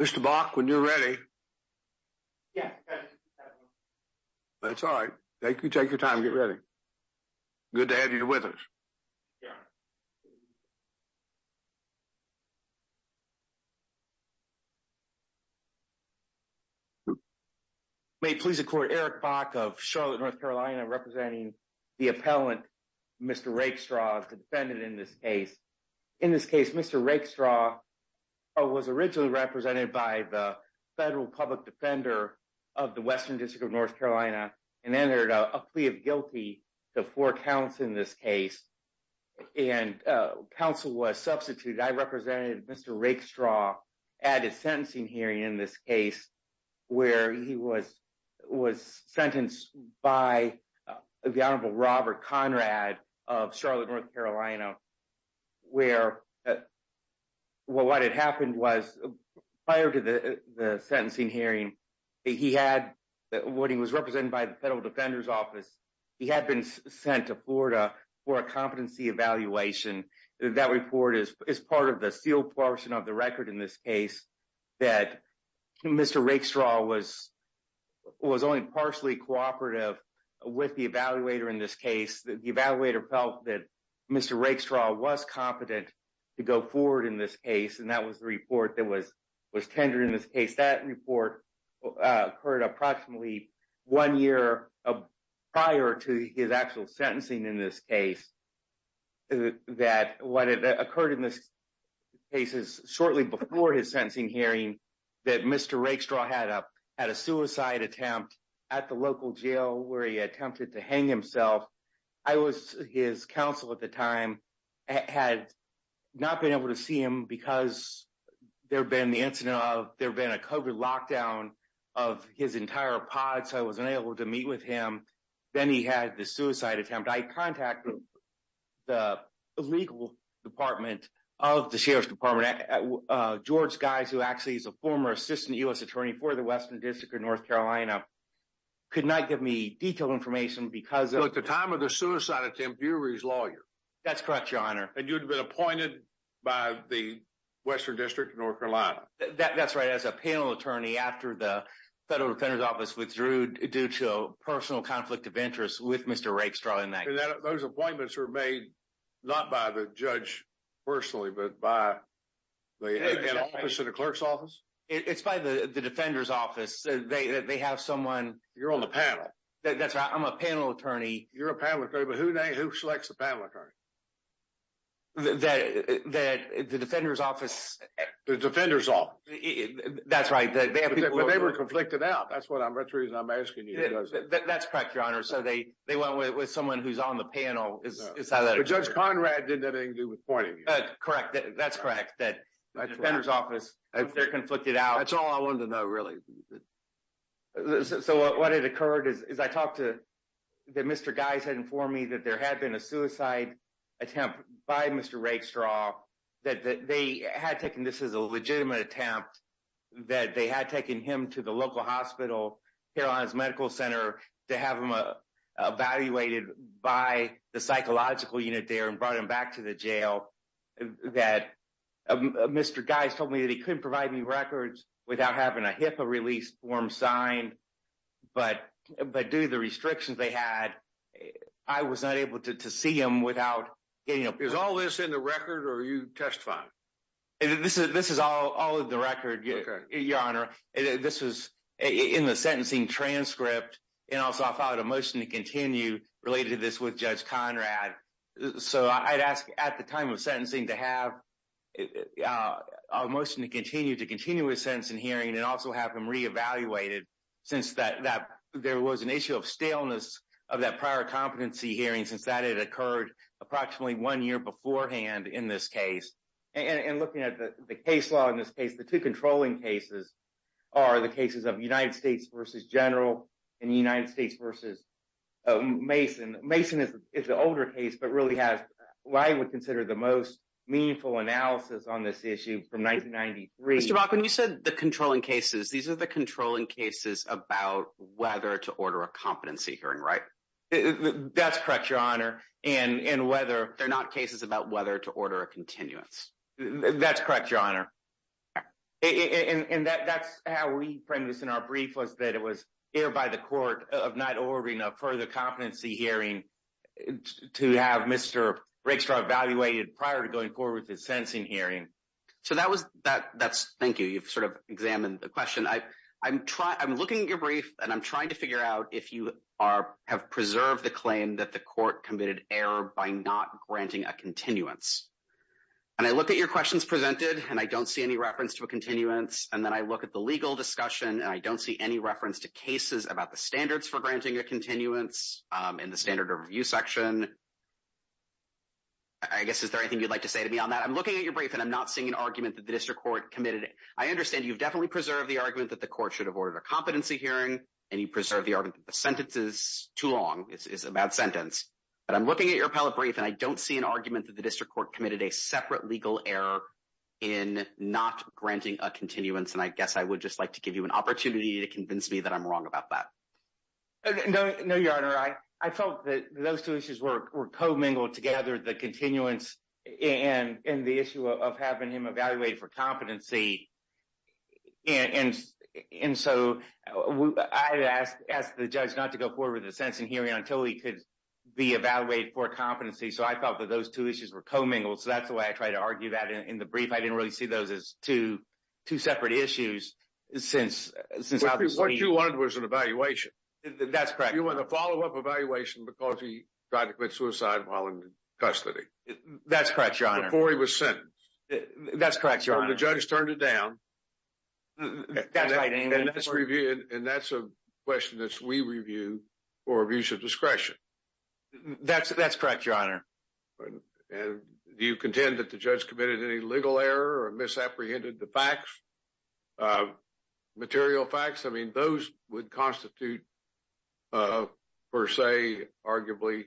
Mr. Bok, when you're ready. Yeah. That's all right. Thank you. Take your time. Get ready. Good to have you with us. May please record Eric Bok of Charlotte, North Carolina, representing the appellant, Mr. Rakestraw, the defendant in this case. In this case, Mr. Rakestraw was originally represented by the federal public defender of the Western District of North Carolina and entered a plea of guilty to four counts in this case. And counsel was substituted. I represented Mr. Rakestraw at a sentencing hearing in this case where he was sentenced by the Honorable Robert Conrad of Charlotte, North Carolina, where what had happened was prior to the sentencing hearing, he had what he was represented by the federal defender's office. He had been sent to Florida for a competency evaluation. That report is part of the sealed portion of the record in this case that Mr. Rakestraw was only partially cooperative with the evaluator in this case. The evaluator felt that Mr. Rakestraw was competent to go forward in this case, and that was the report that was tendered in this case. That report occurred approximately one year prior to his sentencing in this case, that what occurred in this case is shortly before his sentencing hearing that Mr. Rakestraw had a suicide attempt at the local jail where he attempted to hang himself. His counsel at the time had not been able to see him because there had been the incident of there had been a COVID lockdown of his entire pod, so I wasn't able to meet with him. Then he had the suicide attempt. I contacted the legal department of the sheriff's department. George Geis, who actually is a former assistant U.S. attorney for the Western District of North Carolina, could not give me detailed information because of the time of the suicide attempt. You were his lawyer. That's correct, Your Honor. And you'd been appointed by the Western District of North Carolina. That's right. As a panel attorney after the personal conflict of interest with Mr. Rakestraw in that case. Those appointments were made not by the judge personally, but by an office in the clerk's office? It's by the defender's office. They have someone. You're on the panel. That's right. I'm a panel attorney. You're a panel attorney, but who selects the panel attorney? The defender's office. The defender's office. That's right. But they were conflicted out. That's the reason I'm asking you. That's correct, Your Honor. They went with someone who's on the panel. Judge Conrad didn't have anything to do with pointing. Correct. That's correct. The defender's office, they're conflicted out. That's all I wanted to know, really. What had occurred is I talked to... Mr. Geis had informed me that there had been a suicide attempt by Mr. Rakestraw, that they had taken this as a legitimate attempt, that they had taken him to the local hospital, Carolinas Medical Center, to have him evaluated by the psychological unit there and brought him back to the jail. Mr. Geis told me that he couldn't provide me records without having a HIPAA release form signed, but due to the restrictions they had, I was not able to see him without getting a... Is all this in the record, or are you testifying? This is all in the record, Your Honor. This was in the sentencing transcript, and also I filed a motion to continue related to this with Judge Conrad. So I'd ask at the time of sentencing to have a motion to continue his sentencing hearing and also have him re-evaluated since there was an issue of staleness of that prior competency hearing, since that had occurred approximately one year beforehand in this case. And looking at the case law in this case, the two controlling cases are the cases of United States versus General and United States versus Mason. Mason is the older case, but really has what I would consider the most meaningful analysis on this issue from 1993. Mr. Bakken, you said the controlling cases. These are the controlling cases about whether to order a competency hearing, right? That's correct, Your Honor. And whether... They're not cases about whether to order a continuance. That's correct, Your Honor. And that's how we framed this in our brief was that it was hereby the court of not ordering a further competency hearing to have Mr. Rickstraw evaluated prior to going forward with his sentencing hearing. So that was... Thank you. You've sort of examined the question. I'm looking at your brief and I'm looking at your brief and I'm not seeing an argument that the district court committed... I understand you've definitely preserved the argument that the court should have ordered a competency hearing and you preserved the argument that the sentence is too long, it's a bad sentence. But I'm looking at your appellate brief and I don't see an argument that the district court committed a separate legal error in not granting a continuance. And I guess I would just like to give you an opportunity to convince me that I'm wrong about that. No, Your Honor. I felt that those two issues were co-mingled together, the continuance and the issue of having him evaluated for competency. And so I asked the judge not to go forward with the sentencing hearing until he could be evaluated for competency. So I felt that those two issues were co-mingled. So that's the way I tried to argue that in the brief. I didn't really see those as two separate issues since... What you wanted was an evaluation. That's correct. You want a follow-up evaluation because he tried to commit suicide while in custody. That's correct, Your Honor. Before he was sentenced. That's correct, Your Honor. The judge turned it down. That's right. And that's a question that we review for abuse of discretion. That's correct, Your Honor. And do you contend that the judge committed any legal error or misapprehended the facts, the material facts? I mean, those would constitute, per se, arguably,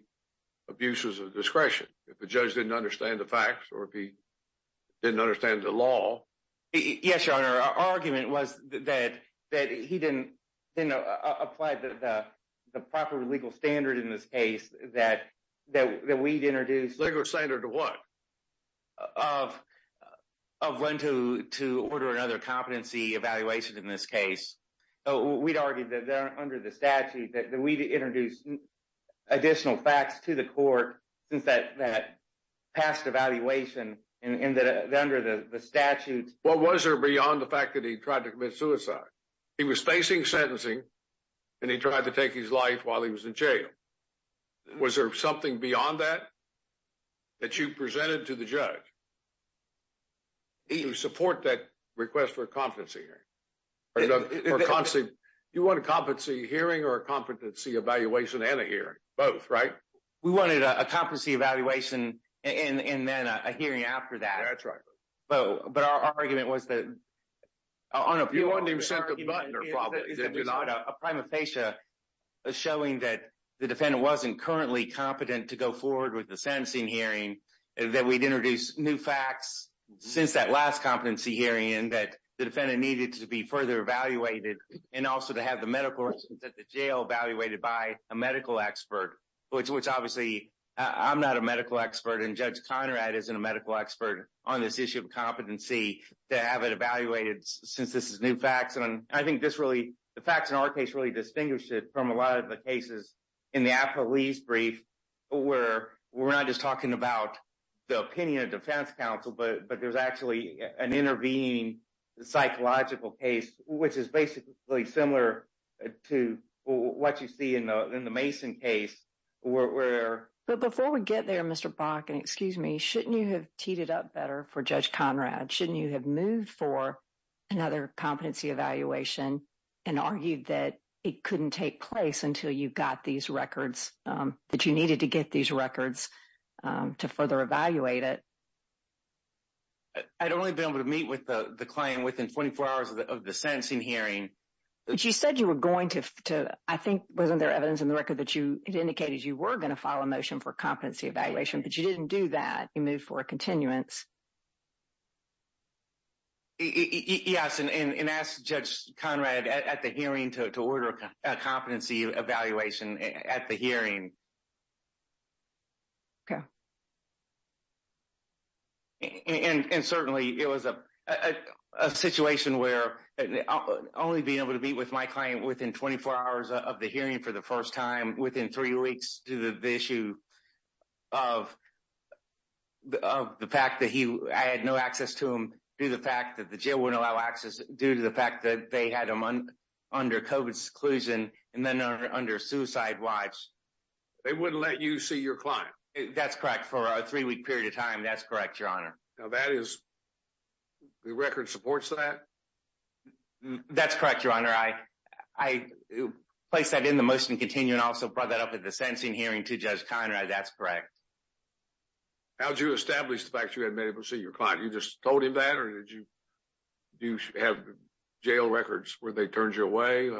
abuses of discretion if the judge didn't understand the facts or if he didn't understand the law. Yes, Your Honor. Our argument was that he didn't apply the proper legal standard in this case that we'd introduced... Legal standard to what? Of when to order another competency evaluation in this case. We'd argued that under the statute that we'd introduced additional facts to the court since that past evaluation and that under the statute... What was there beyond the fact that he tried to commit suicide? He was facing sentencing and he tried to take his life while he was in jail. Was there something beyond that that you presented to the judge? Do you support that request for a competency hearing? Do you want a competency hearing or a competency evaluation and a hearing? Both, right? We wanted a competency evaluation and then a hearing after that. That's right. But our argument was that... Your Honor, if you wanted him sent to the butler, probably, did you not? A prima facie showing that the defendant wasn't currently competent to go forward with the sentencing hearing that we'd introduced new facts since that last competency hearing that the defendant needed to be further evaluated and also to have the medical records at the jail evaluated by a medical expert, which obviously, I'm not a medical expert and Judge Conrad isn't a medical expert on this issue of competency to have it evaluated since this is new facts. And I think the facts in our case really distinguish it from a lot of the cases in the police brief where we're not just talking about the opinion of defense counsel, but there's actually an intervening psychological case, which is basically similar to what you see in the Mason case where... But before we get there, Mr. Brock, and excuse me, shouldn't you have teed it up better for Judge Conrad? Shouldn't you have moved for another competency evaluation and argued that it couldn't take place until you got these records, that you needed to get these records to further evaluate it? I'd only been able to meet with the claim within 24 hours of the sentencing hearing. But you said you were going to, I think, wasn't there evidence in the record that you indicated you were going to file a motion for competency evaluation, but you didn't do that. You moved for a continuance. Yes. And ask Judge Conrad at the hearing to order a competency evaluation at the hearing. Okay. And certainly, it was a situation where only being able to meet with my client within 24 hours of the hearing for the first time within three weeks to the issue of the fact that I had no access to him due to the fact that the jail wouldn't allow access due to the fact that they had him under COVID seclusion and then under suicide watch. They wouldn't let you see your client? That's correct. For a three-week period of time. That's correct, Your Honor. Now, that is... The record supports that? That's correct, Your Honor. I placed that in the motion to continue and also brought that up at the sentencing hearing to Judge Conrad. That's correct. How'd you establish the fact you hadn't been able to see your client? You just told him that or did you... Do you have jail records where they turned you away?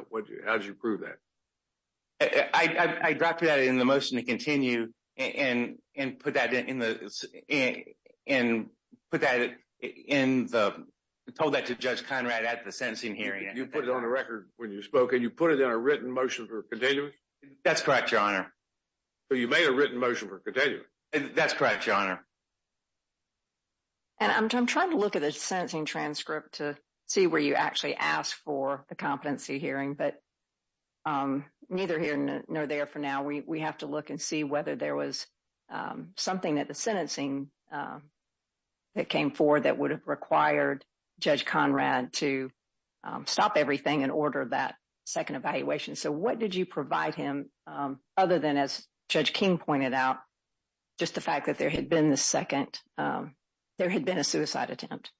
How'd you prove that? I dropped that in the motion to continue and put that in the... Told that to Judge Conrad at the sentencing hearing. You put it on the record when you spoke and you put it in a written motion for continuity? That's correct, Your Honor. So you made a written motion for continuity? That's correct, Your Honor. And I'm trying to look at the sentencing transcript to see where you actually asked for the competency hearing, but neither here nor there for now. We have to look and see whether there was something at the sentencing that came forward that would have required Judge Conrad to stop everything and order that second evaluation. So what did you provide him other than, as Judge King pointed out, just the fact that there had been a suicide attempt?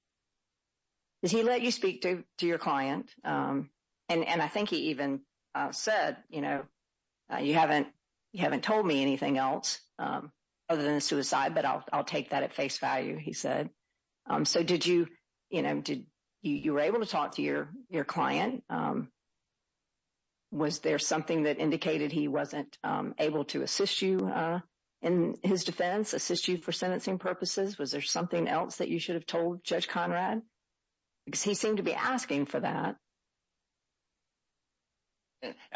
Did he let you speak to your client? And I think he even said, you haven't told me anything else other than suicide, but I'll take that at face value, he said. So you were able to talk to your client. Was there something that indicated he wasn't able to assist you in his defense, assist you for sentencing purposes? Was there something else that you should have told Judge Conrad? Because he seemed to be asking for that.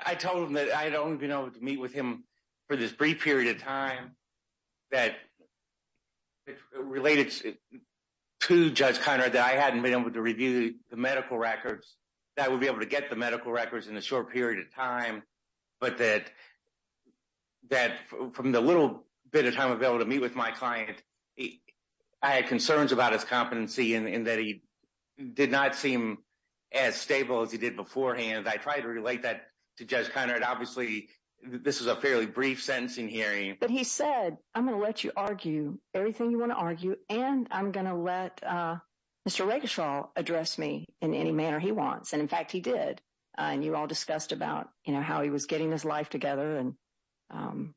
I told him that I'd only been able to meet with him for this brief period of time that related to Judge Conrad that I hadn't been able to review the medical records, that I would be able to get the medical records in a short period of time, but that from the little bit of time available to meet with my client, I had concerns about his competency and that he did not seem as stable as he did beforehand. I tried to relate that to Judge Conrad. Obviously, this is a fairly brief sentencing hearing. But he said, I'm going to let you argue everything you want to argue, and I'm going to let Mr. Regashaw address me in any manner he wants. And in fact, he did. And you all discussed about, you know, how he was getting his life together and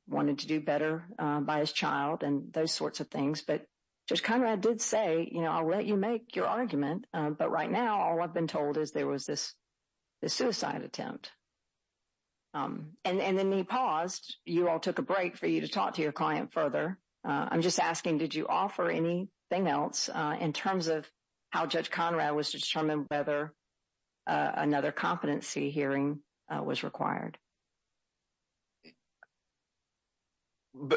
wanted to do better by his child and those sorts of things. But Judge Conrad did say, you know, I'll let you make your argument. But right now, all I've been told is there was this suicide attempt. And then he paused. You all took a break for you to talk to your client further. I'm just asking, did you offer anything else in terms of how Judge Conrad was to determine whether another competency hearing was required?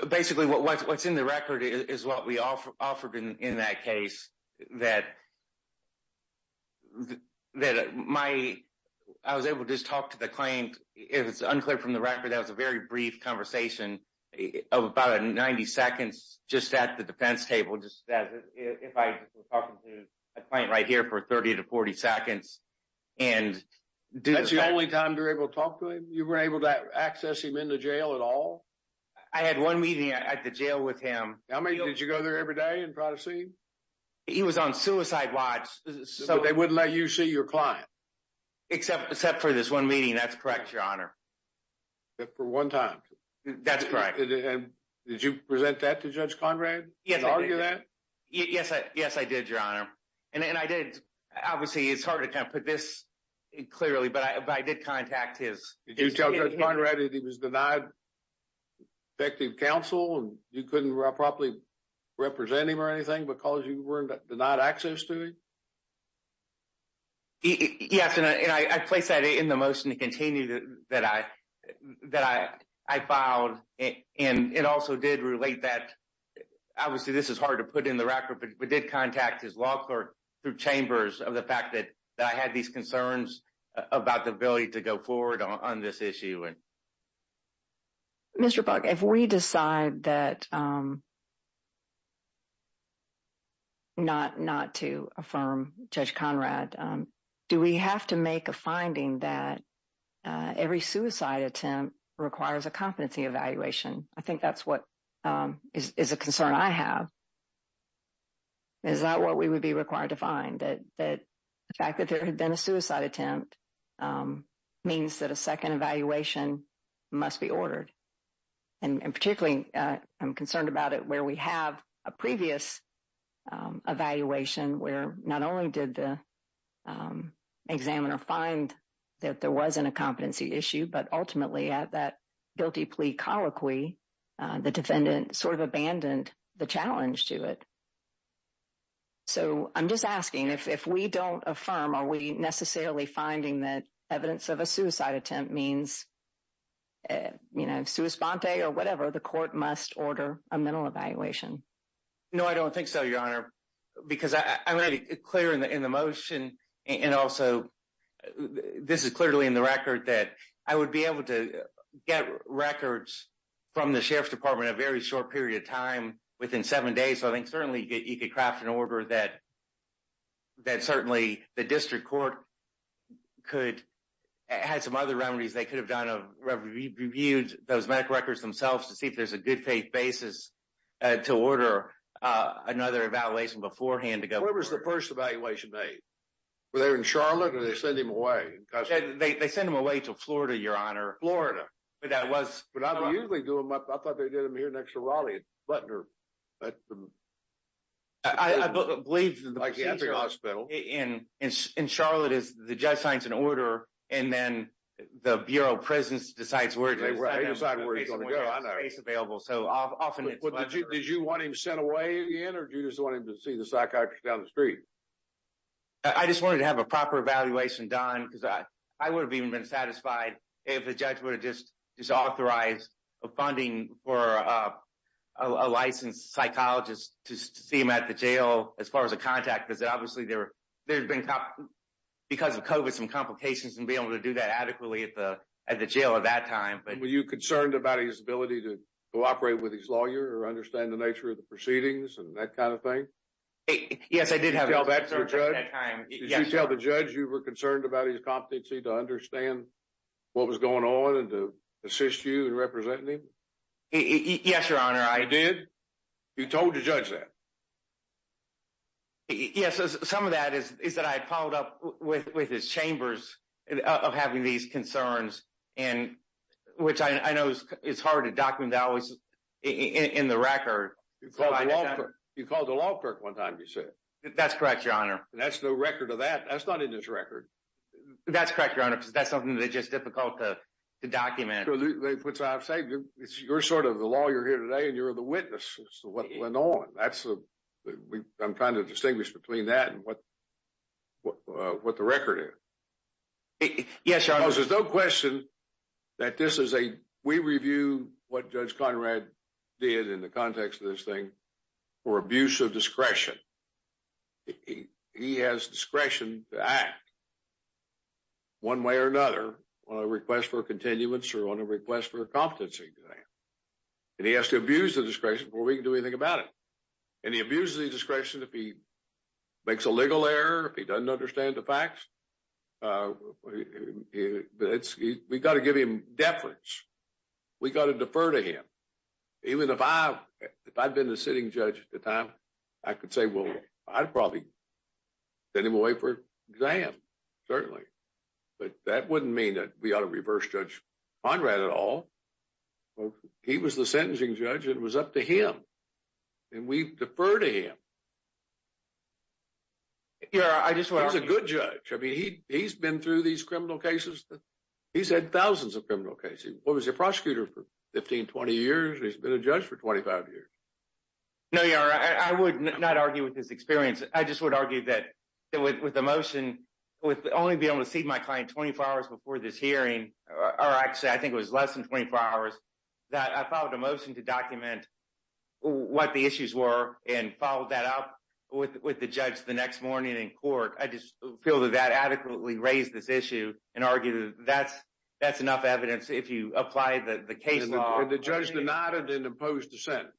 Basically, what's in the record is what we offered in that case. I was able to just talk to the client. If it's unclear from the record, that was a very brief conversation of about 90 seconds just at the defense table, just as if I was talking to a client right here for 30 to 40 seconds. That's the only time you were able to talk to him? You were able to access him in the jail at all? I had one meeting at the jail with him. Did you go there every day and try to see him? He was on suicide watch. So they wouldn't let you see your client? Except for this one meeting. That's correct, Your Honor. Except for one time? That's correct. Did you present that to Judge Conrad and argue that? Yes, I did, Your Honor. And I did. Obviously, it's hard to kind of put this clearly, but I did contact his... Did you tell Judge Conrad that he was denied effective counsel and you couldn't properly represent him or anything because you were denied access to him? Yes, and I placed that in the motion to continue that I filed. And it also did relate that, obviously, this is hard to put in the record, but we did contact his law clerk through chambers of the fact that I had these concerns about the ability to go forward on this issue. Mr. Buck, if we decide that... Not to affirm Judge Conrad, do we have to make a finding that every suicide attempt requires a competency evaluation? I think that's what is a concern I have. Is that what we would be required to find? That the fact that there had been a suicide attempt means that a second evaluation must be ordered. And particularly, I'm concerned about it where we have a previous evaluation where not only did the examiner find that there wasn't a competency issue, but ultimately at that guilty plea colloquy, the defendant sort of abandoned the challenge to it. So I'm just asking, if we don't affirm, are we necessarily finding that evidence of a suicide attempt means, you know, sui sponte or whatever, the court must order a mental evaluation? No, I don't think so, Your Honor, because I made it clear in the motion and also this is clearly in the record that I would be able to get records from the sheriff's department a very short period of time within seven days. So I think certainly you could craft an order that certainly the district court could have some other remedies. They could have reviewed those medical records themselves to see if there's a good faith basis to order another evaluation beforehand to go. Where was the first evaluation made? Were they in Charlotte or did they send him away? They sent him away to Florida, Your Honor. Florida. But that was- I thought they did them here next to Raleigh, Butler. I believe that the hospital in Charlotte is the judge signs an order and then the Bureau of Prisons decides where it is available. So often it's- Did you want him sent away again or do you just want him to see the psychiatrist down the street? I just wanted to have a proper evaluation done because I would have even been satisfied if the judge would have just authorized funding for a licensed psychologist to see him at the jail as far as a contact because obviously there's been, because of COVID, some complications and being able to do that adequately at the jail at that time. Were you concerned about his ability to cooperate with his lawyer or understand the nature of the proceedings and that kind of thing? Yes, I did have- Did you tell the judge you were concerned about his competency to understand what was going on and to assist you in representing him? Yes, Your Honor, I- You did? You told the judge that? Yes. Some of that is that I had followed up with his chambers of having these concerns and which I know it's hard to document that always in the record. You called the law clerk one time, you said. That's correct, Your Honor. That's no record of that. That's not in his record. That's correct, Your Honor, because that's something that's just difficult to document. Which I've said, you're sort of the lawyer here today and you're the witness as to what went on. I'm trying to distinguish between that and what the record is. Yes, Your Honor. Because there's no question that this is a, we review what Judge Conrad did in the context of for abuse of discretion. He has discretion to act one way or another on a request for continuance or on a request for competency. And he has to abuse the discretion before we can do anything about it. And he abuses the discretion if he makes a legal error, if he doesn't understand the facts. But we've got to give him deference. We've got to defer to him. Even if I'd been the sitting judge at the time, I could say, well, I'd probably send him away for an exam, certainly. But that wouldn't mean that we ought to reverse Judge Conrad at all. He was the sentencing judge. It was up to him. And we defer to him. Your Honor, I just want to- He's been through these criminal cases. He's had thousands of criminal cases. He was a prosecutor for 15, 20 years. He's been a judge for 25 years. No, Your Honor. I would not argue with his experience. I just would argue that with the motion, with only being able to see my client 24 hours before this hearing, or actually, I think it was less than 24 hours, that I filed a motion to document what the issues were and followed that up with the judge the next morning in court. I just feel that that adequately raised this issue and argued that that's enough evidence if you apply the case law- And the judge denied it and imposed the sentence.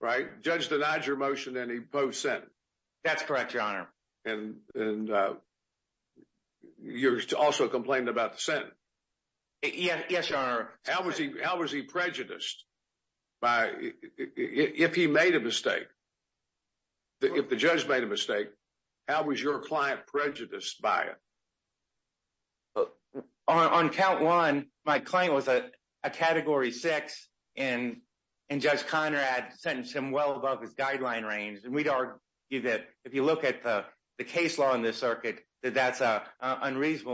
Right? Judge denied your motion and he imposed the sentence. That's correct, Your Honor. And you're also complaining about the sentence. Yes, Your Honor. How was he prejudiced? If he made a mistake, if the judge made a mistake, how was your client prejudiced by it? On count one, my client was a category six and Judge Conrad sentenced him well above his guideline range. And we'd argue that if you look at the case law in this circuit, that that's an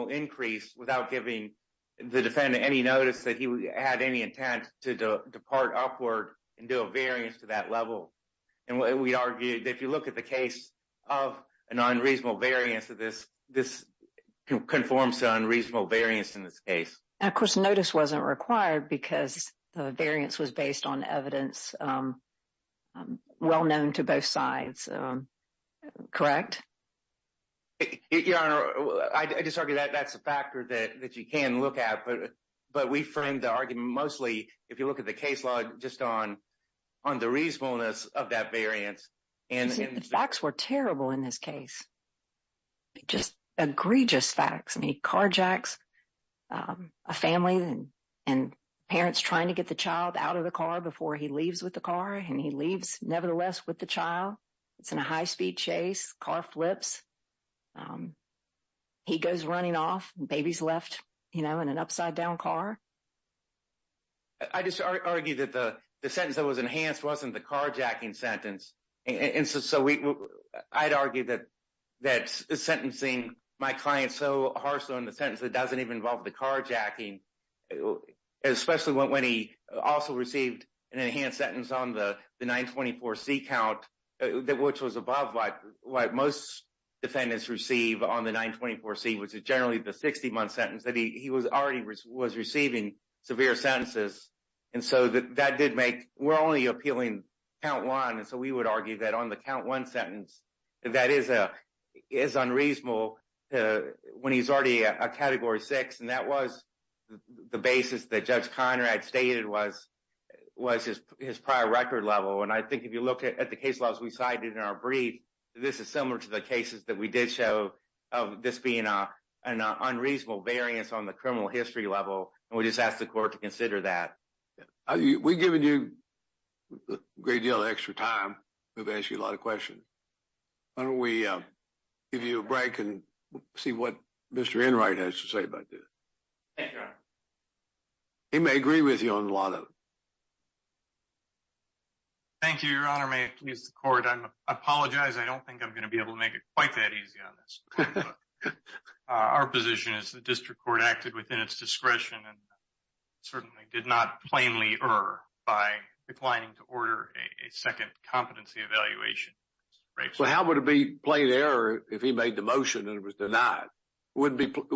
increase without giving the defendant any notice that he had any intent to depart upward and do a variance to that level. And we'd argue that if you look at the case of an unreasonable variance, this conforms to unreasonable variance in this case. Of course, notice wasn't required because the variance was based on evidence that was well known to both sides. Correct? Your Honor, I just argue that that's a factor that you can look at, but we framed the argument mostly, if you look at the case law, just on the reasonableness of that variance. You see, the facts were terrible in this case. Just egregious facts. I mean, carjacks, a family and parents trying to get the child out of the car before he leaves with the car, and he leaves nevertheless with the child. It's in a high speed chase, car flips. He goes running off, baby's left in an upside down car. I just argue that the sentence that was enhanced wasn't the carjacking sentence. So, I'd argue that sentencing my client so harshly on the sentence that doesn't even involve the carjacking, especially when he also received an enhanced sentence on the 924C count, which was above what most defendants receive on the 924C, which is generally the 60-month sentence, that he was already receiving severe sentences. And so, that did make, we're only appealing count one. And so, we would argue that on the count one sentence, that is unreasonable when he's already a category six. And that was the basis that Judge Conrad stated was his prior record level. And I think if you look at the case laws we cited in our brief, this is similar to the cases that we did show of this being an unreasonable variance on the 924C. So, I don't want to spend a great deal of extra time. We've asked you a lot of questions. Why don't we give you a break and see what Mr. Enright has to say about this. He may agree with you on a lot of it. Thank you, Your Honor. May it please the court. I apologize. I don't think I'm going to be able to make it quite that easy on this. Our position is the district court acted within its discretion and certainly did not plainly err by declining to order a second competency evaluation. Well, how would it be plain error if he made the motion and it was denied? We wouldn't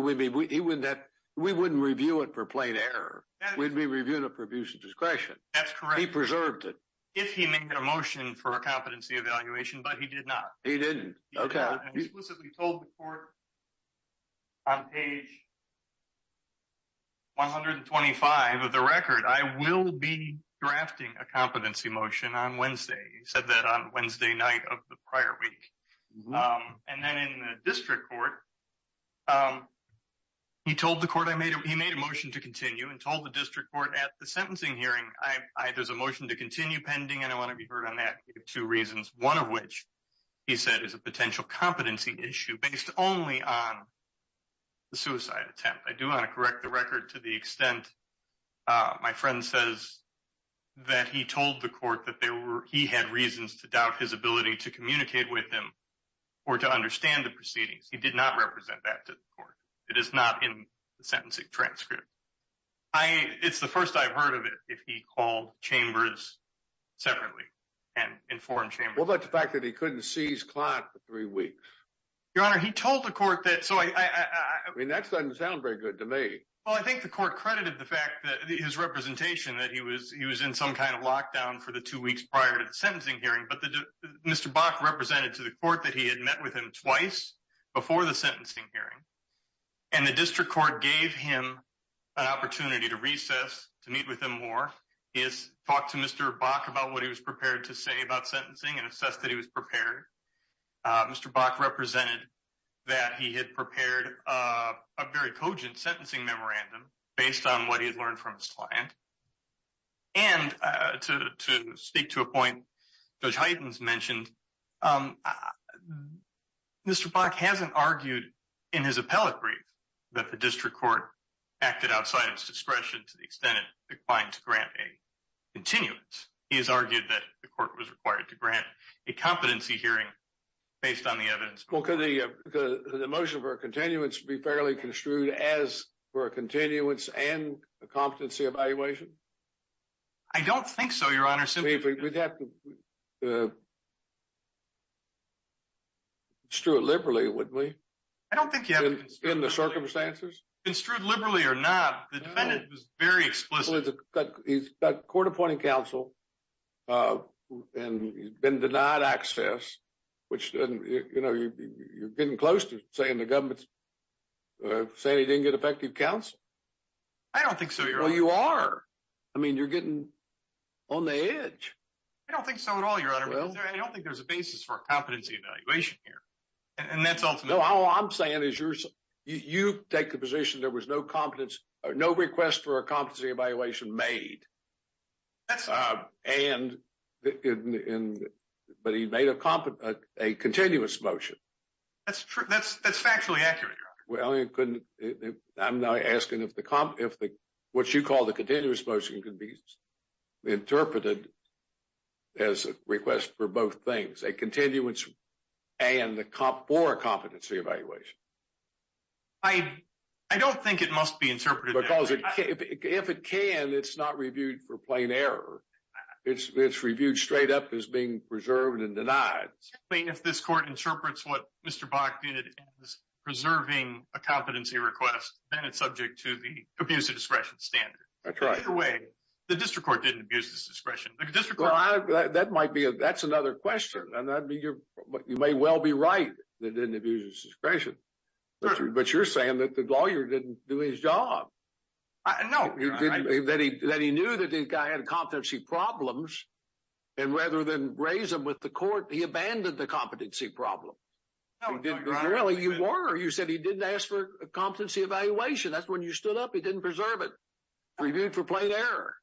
review it for plain error. We'd be reviewing it for abuse of discretion. That's correct. He preserved it. If he made a motion for a competency evaluation, but he did not. He didn't. Okay. He explicitly told the court on page 125 of the record, I will be drafting a competency motion on Wednesday. He said that on Wednesday night of the prior week. And then in the district court, he told the court, he made a motion to continue and told the district court at the sentencing hearing, there's a motion to continue pending and I want to be heard on that. He gave reasons. One of which he said is a potential competency issue based only on the suicide attempt. I do want to correct the record to the extent my friend says that he told the court that he had reasons to doubt his ability to communicate with him or to understand the proceedings. He did not represent that to the court. It is not in the sentencing transcript. It's the first I've Well, that's the fact that he couldn't see his client for three weeks. Your honor, he told the court that, so I mean, that doesn't sound very good to me. Well, I think the court credited the fact that his representation, that he was, he was in some kind of lockdown for the two weeks prior to the sentencing hearing, but the Mr. Bach represented to the court that he had met with him twice before the sentencing hearing. And the district court gave him an opportunity to recess, to meet with him is talk to Mr. Bach about what he was prepared to say about sentencing and assess that he was prepared. Mr. Bach represented that he had prepared a very cogent sentencing memorandum based on what he had learned from his client. And to, to speak to a point, those heightens mentioned Mr. Bach hasn't argued in his appellate brief that the district court acted outside of his grant a continuance. He has argued that the court was required to grant a competency hearing based on the evidence. Well, can the, the, the motion for a continuance to be fairly construed as for a continuance and a competency evaluation? I don't think so. Your honor. Strew it liberally with me. I don't think you have in the circumstances construed liberally or not. The defendant was very explicit. He's got court appointing council and he's been denied access, which doesn't, you know, you're getting close to saying the government's saying he didn't get effective counsel. I don't think so. You are. I mean, you're getting on the edge. I don't think so at all. Your honor. I don't think there's a basis for competency evaluation here. And that's all I'm saying is you're, you take the position. There was no competence or no request for a competency evaluation made. That's and in, but he made a competent, a continuous motion. That's true. That's, that's factually accurate. Well, it couldn't, I'm not asking if the comp, if the, what you call the continuous motion can be interpreted as a request for both things, a continuance and the comp for a competency evaluation. I don't think it must be interpreted because if it can, it's not reviewed for plain error. It's, it's reviewed straight up as being preserved and denied. If this court interprets what Mr. Bach did, preserving a competency request, then it's subject to the abuse of discretion. Well, that might be a, that's another question. And that'd be your, you may well be right. They didn't abuse discretion, but you're saying that the lawyer didn't do his job. I know that he, that he knew that the guy had competency problems and rather than raise them with the court, he abandoned the competency problem. Really? You were, you said he didn't ask for a competency evaluation. That's when you stood up. He didn't preserve it. Reviewed for plain error.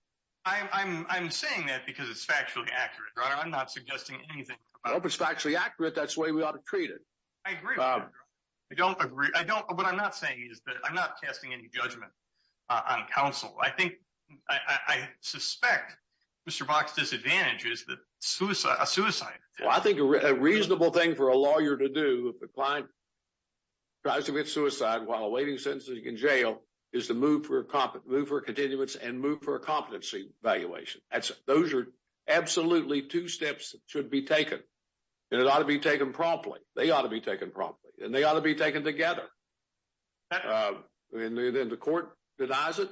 I'm saying that because it's factually accurate. I'm not suggesting anything. I hope it's factually accurate. That's the way we ought to treat it. I agree. I don't agree. I don't, what I'm not saying is that I'm not casting any judgment on counsel. I think, I suspect Mr. Bach's disadvantage is that suicide, a suicide. I think a reasonable thing for a lawyer to do if a client tries to commit suicide while awaiting sentencing in jail is to move for a competence, move for continuance and move for a competency evaluation. That's, those are absolutely two steps that should be taken and it ought to be taken promptly. They ought to be taken promptly and they ought to be taken together. And then the court denies it,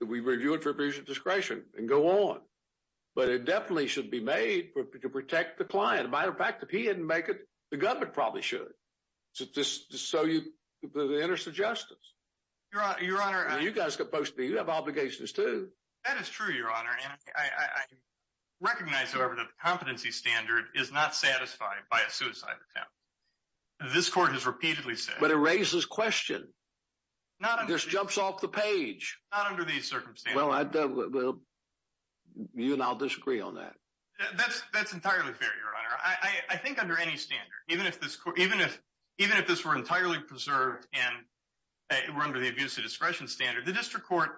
that we review it for abuse of discretion and go on. But it definitely should be made to protect the client. As a matter of fact, if he didn't make it, the government probably should. So you, the interest of justice. Your honor, you guys have obligations too. That is true, your honor. And I recognize however, that the competency standard is not satisfied by a suicide attempt. This court has repeatedly said. But it raises question. This jumps off the page. Not under these circumstances. Well, you and I'll disagree on that. That's entirely fair, your honor. I think under any standard, even if this were entirely preserved and were under the abuse of discretion standard, the district court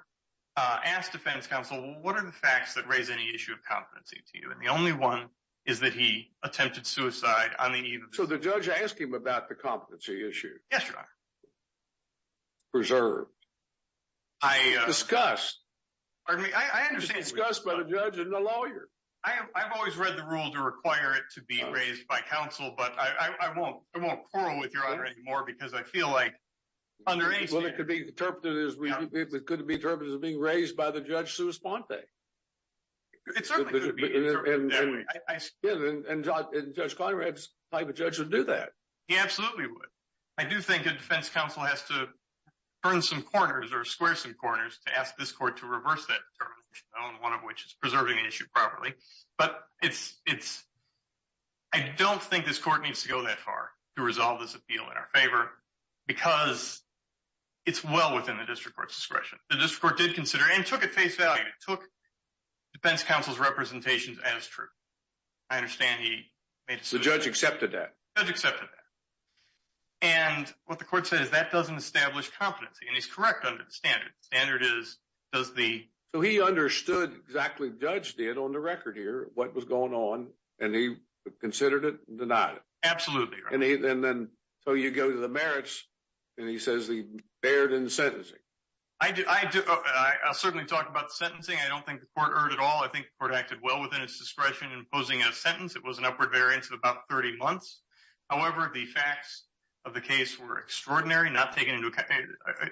asked defense counsel, what are the facts that raise any issue of competency to you? And the only one is that he attempted suicide on the eve of. So the judge asked him about the competency issue. Yes, your honor. Preserved. Discussed. Pardon me, I understand. Discussed by the judge and the lawyer. I've always read the rule to require it to be raised by counsel, but I won't quarrel with your honor anymore because I feel like under any standard. Well, it could be interpreted as being raised by the judge sua sponte. It certainly could be. And judge Conrad's type of judge would do that. He absolutely would. I do think a defense counsel has to turn some corners or square some corners to ask this court to reverse that determination, one of which is preserving the issue properly. But I don't think this court needs to go that far to resolve this appeal in our favor because it's well within the district court's discretion. The district court did consider and took it face value. It took defense counsel's representations as true. I understand he made a decision. The judge accepted that. Judge accepted that. And what the court said is that doesn't establish competency. And he's does the so he understood exactly. Judge did on the record here what was going on, and he considered it, denied it. Absolutely. And then so you go to the merits, and he says he erred in sentencing. I do. I'll certainly talk about sentencing. I don't think the court erred at all. I think the court acted well within its discretion in posing a sentence. It was an upward variance of about 30 months. However, the facts of the case were extraordinary, not taken into account.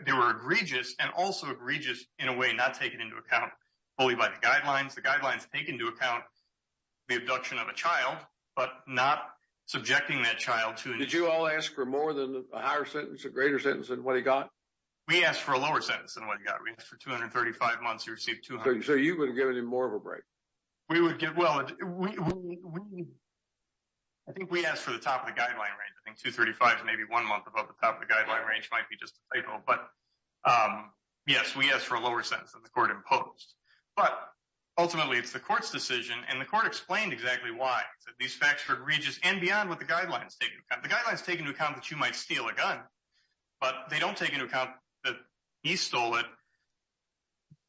They were egregious and also egregious in a way not taken into account fully by the guidelines. The guidelines take into account the abduction of a child, but not subjecting that child to it. Did you all ask for more than a higher sentence, a greater sentence than what he got? We asked for a lower sentence than what he got. We asked for 235 months. He received 230. So you would have given him more of a break? We would get well. I think we asked for the top of the guideline range. I think 235 is maybe one month above the top of the guideline range. It might be just a title. But yes, we asked for a lower sentence than the court imposed. But ultimately, it's the court's decision, and the court explained exactly why. These facts are egregious and beyond what the guidelines take into account. The guidelines take into account that you might steal a gun, but they don't take into account that he stole it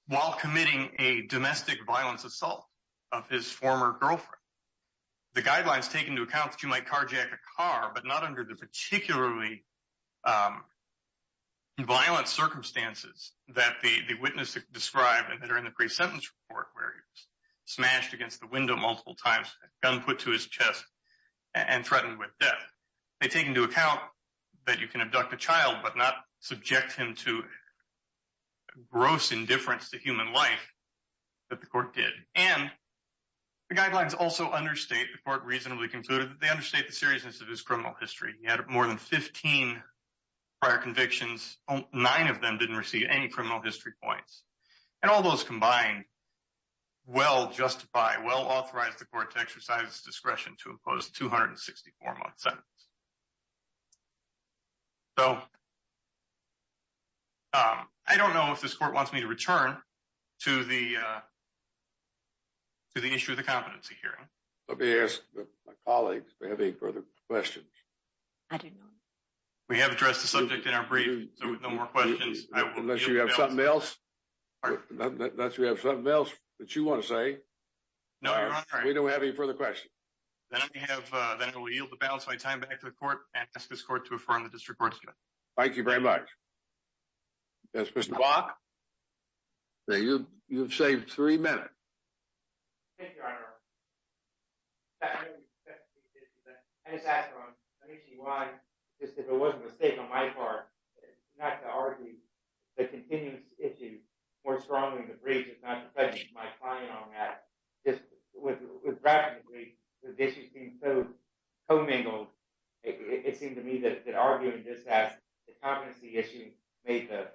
while committing a domestic violence assault of his former girlfriend. The guidelines take into account that you might carjack a car, but not under the particularly violent circumstances that the witness described during the pre-sentence report where he was smashed against the window multiple times, gun put to his chest, and threatened with death. They take into account that you can abduct a child but not subject him to gross indifference to human life that the court did. And the guidelines also understate the court reasonably concluded that they understate the seriousness of his criminal history. He had more than 15 prior convictions. Nine of them didn't receive any criminal history points. And all those combined well justify, well authorize the court to exercise discretion to impose 264-month sentence. So I don't know if this court wants me to return to the issue of the competency hearing. Let me ask my colleagues if they have any further questions. I don't know. We have addressed the subject in our brief, so no more questions. Unless you have something else, unless you have something else that you want to say, we don't have any further questions. Then I have, then I will yield the balance of my time back to the court and ask the court to affirm the district court's judgment. Thank you very much. Yes, Mr. Bok. Now you've saved three minutes. Thank you, Your Honor. I just asked why, just if it wasn't a mistake on my part, not to argue the continuous issue more strongly in the brief, just not to prejudice my client on that. Just with gravity, with issues being so commingled, it seemed to me that arguing this as the competency issue made the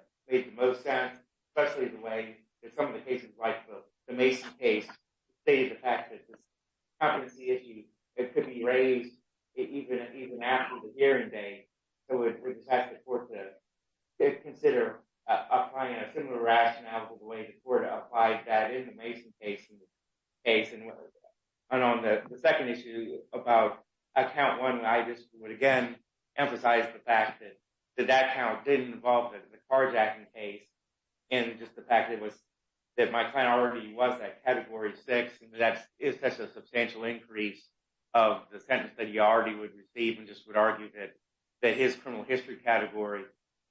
most sense, especially the way that some of the cases, like the Mason case, stated the fact that this competency issue, it could be raised even after the hearing day. So we just ask the court to consider applying a similar rationale to the way the court applied that in the Mason case. And on the second issue about account one, I just would again emphasize the fact that that account didn't involve the Karjakin case and just the fact that my client already was that category six, and that is such a substantial increase of the sentence that he already would receive and just would argue that his criminal history category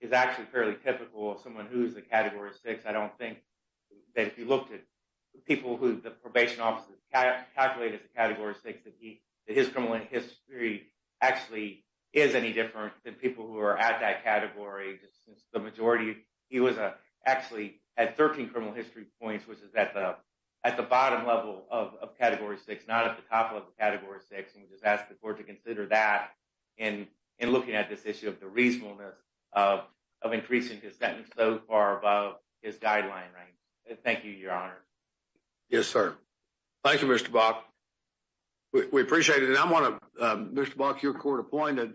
is actually fairly typical of someone who's a category six. I don't think that if you looked at the people who the probation officers calculated as a category six, that his criminal history actually is any different than people who are at that category, just since the majority, he was actually at 13 criminal history points, which is at the bottom level of category six, not at the top of category six. And we just ask the court to consider that in looking at this issue of the reasonableness of increasing his sentence so far above his guideline, right? Thank you, your honor. Yes, sir. Thank you, Mr. Bach. We appreciate it. And I want to, Mr. Bach, your court appointed,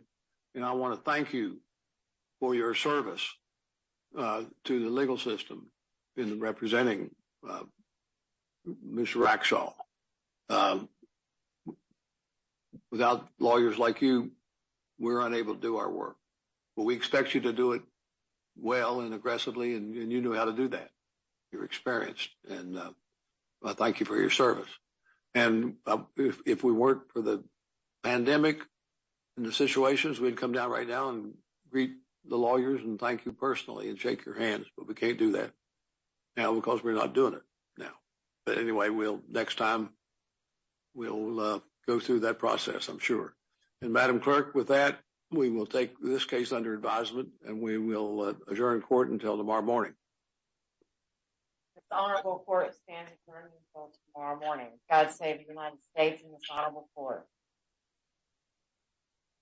and I want to thank you for your service to the legal system in representing Mr. Raxall. Without lawyers like you, we're unable to do our work, but we expect you to do it well and aggressively, and you knew how to do that. You're experienced, and I thank you for your service. And if we weren't for the pandemic and the situations, we'd come down right now and greet the lawyers and thank you personally and shake your hands, but we can't do that now because we're not doing it now. But anyway, next time we'll go through that process, I'm sure. And Madam Clerk, with that, we will take this case under advisement, and we will adjourn court until tomorrow morning. This honorable court stands adjourned until tomorrow morning. God save the United States and this honorable court.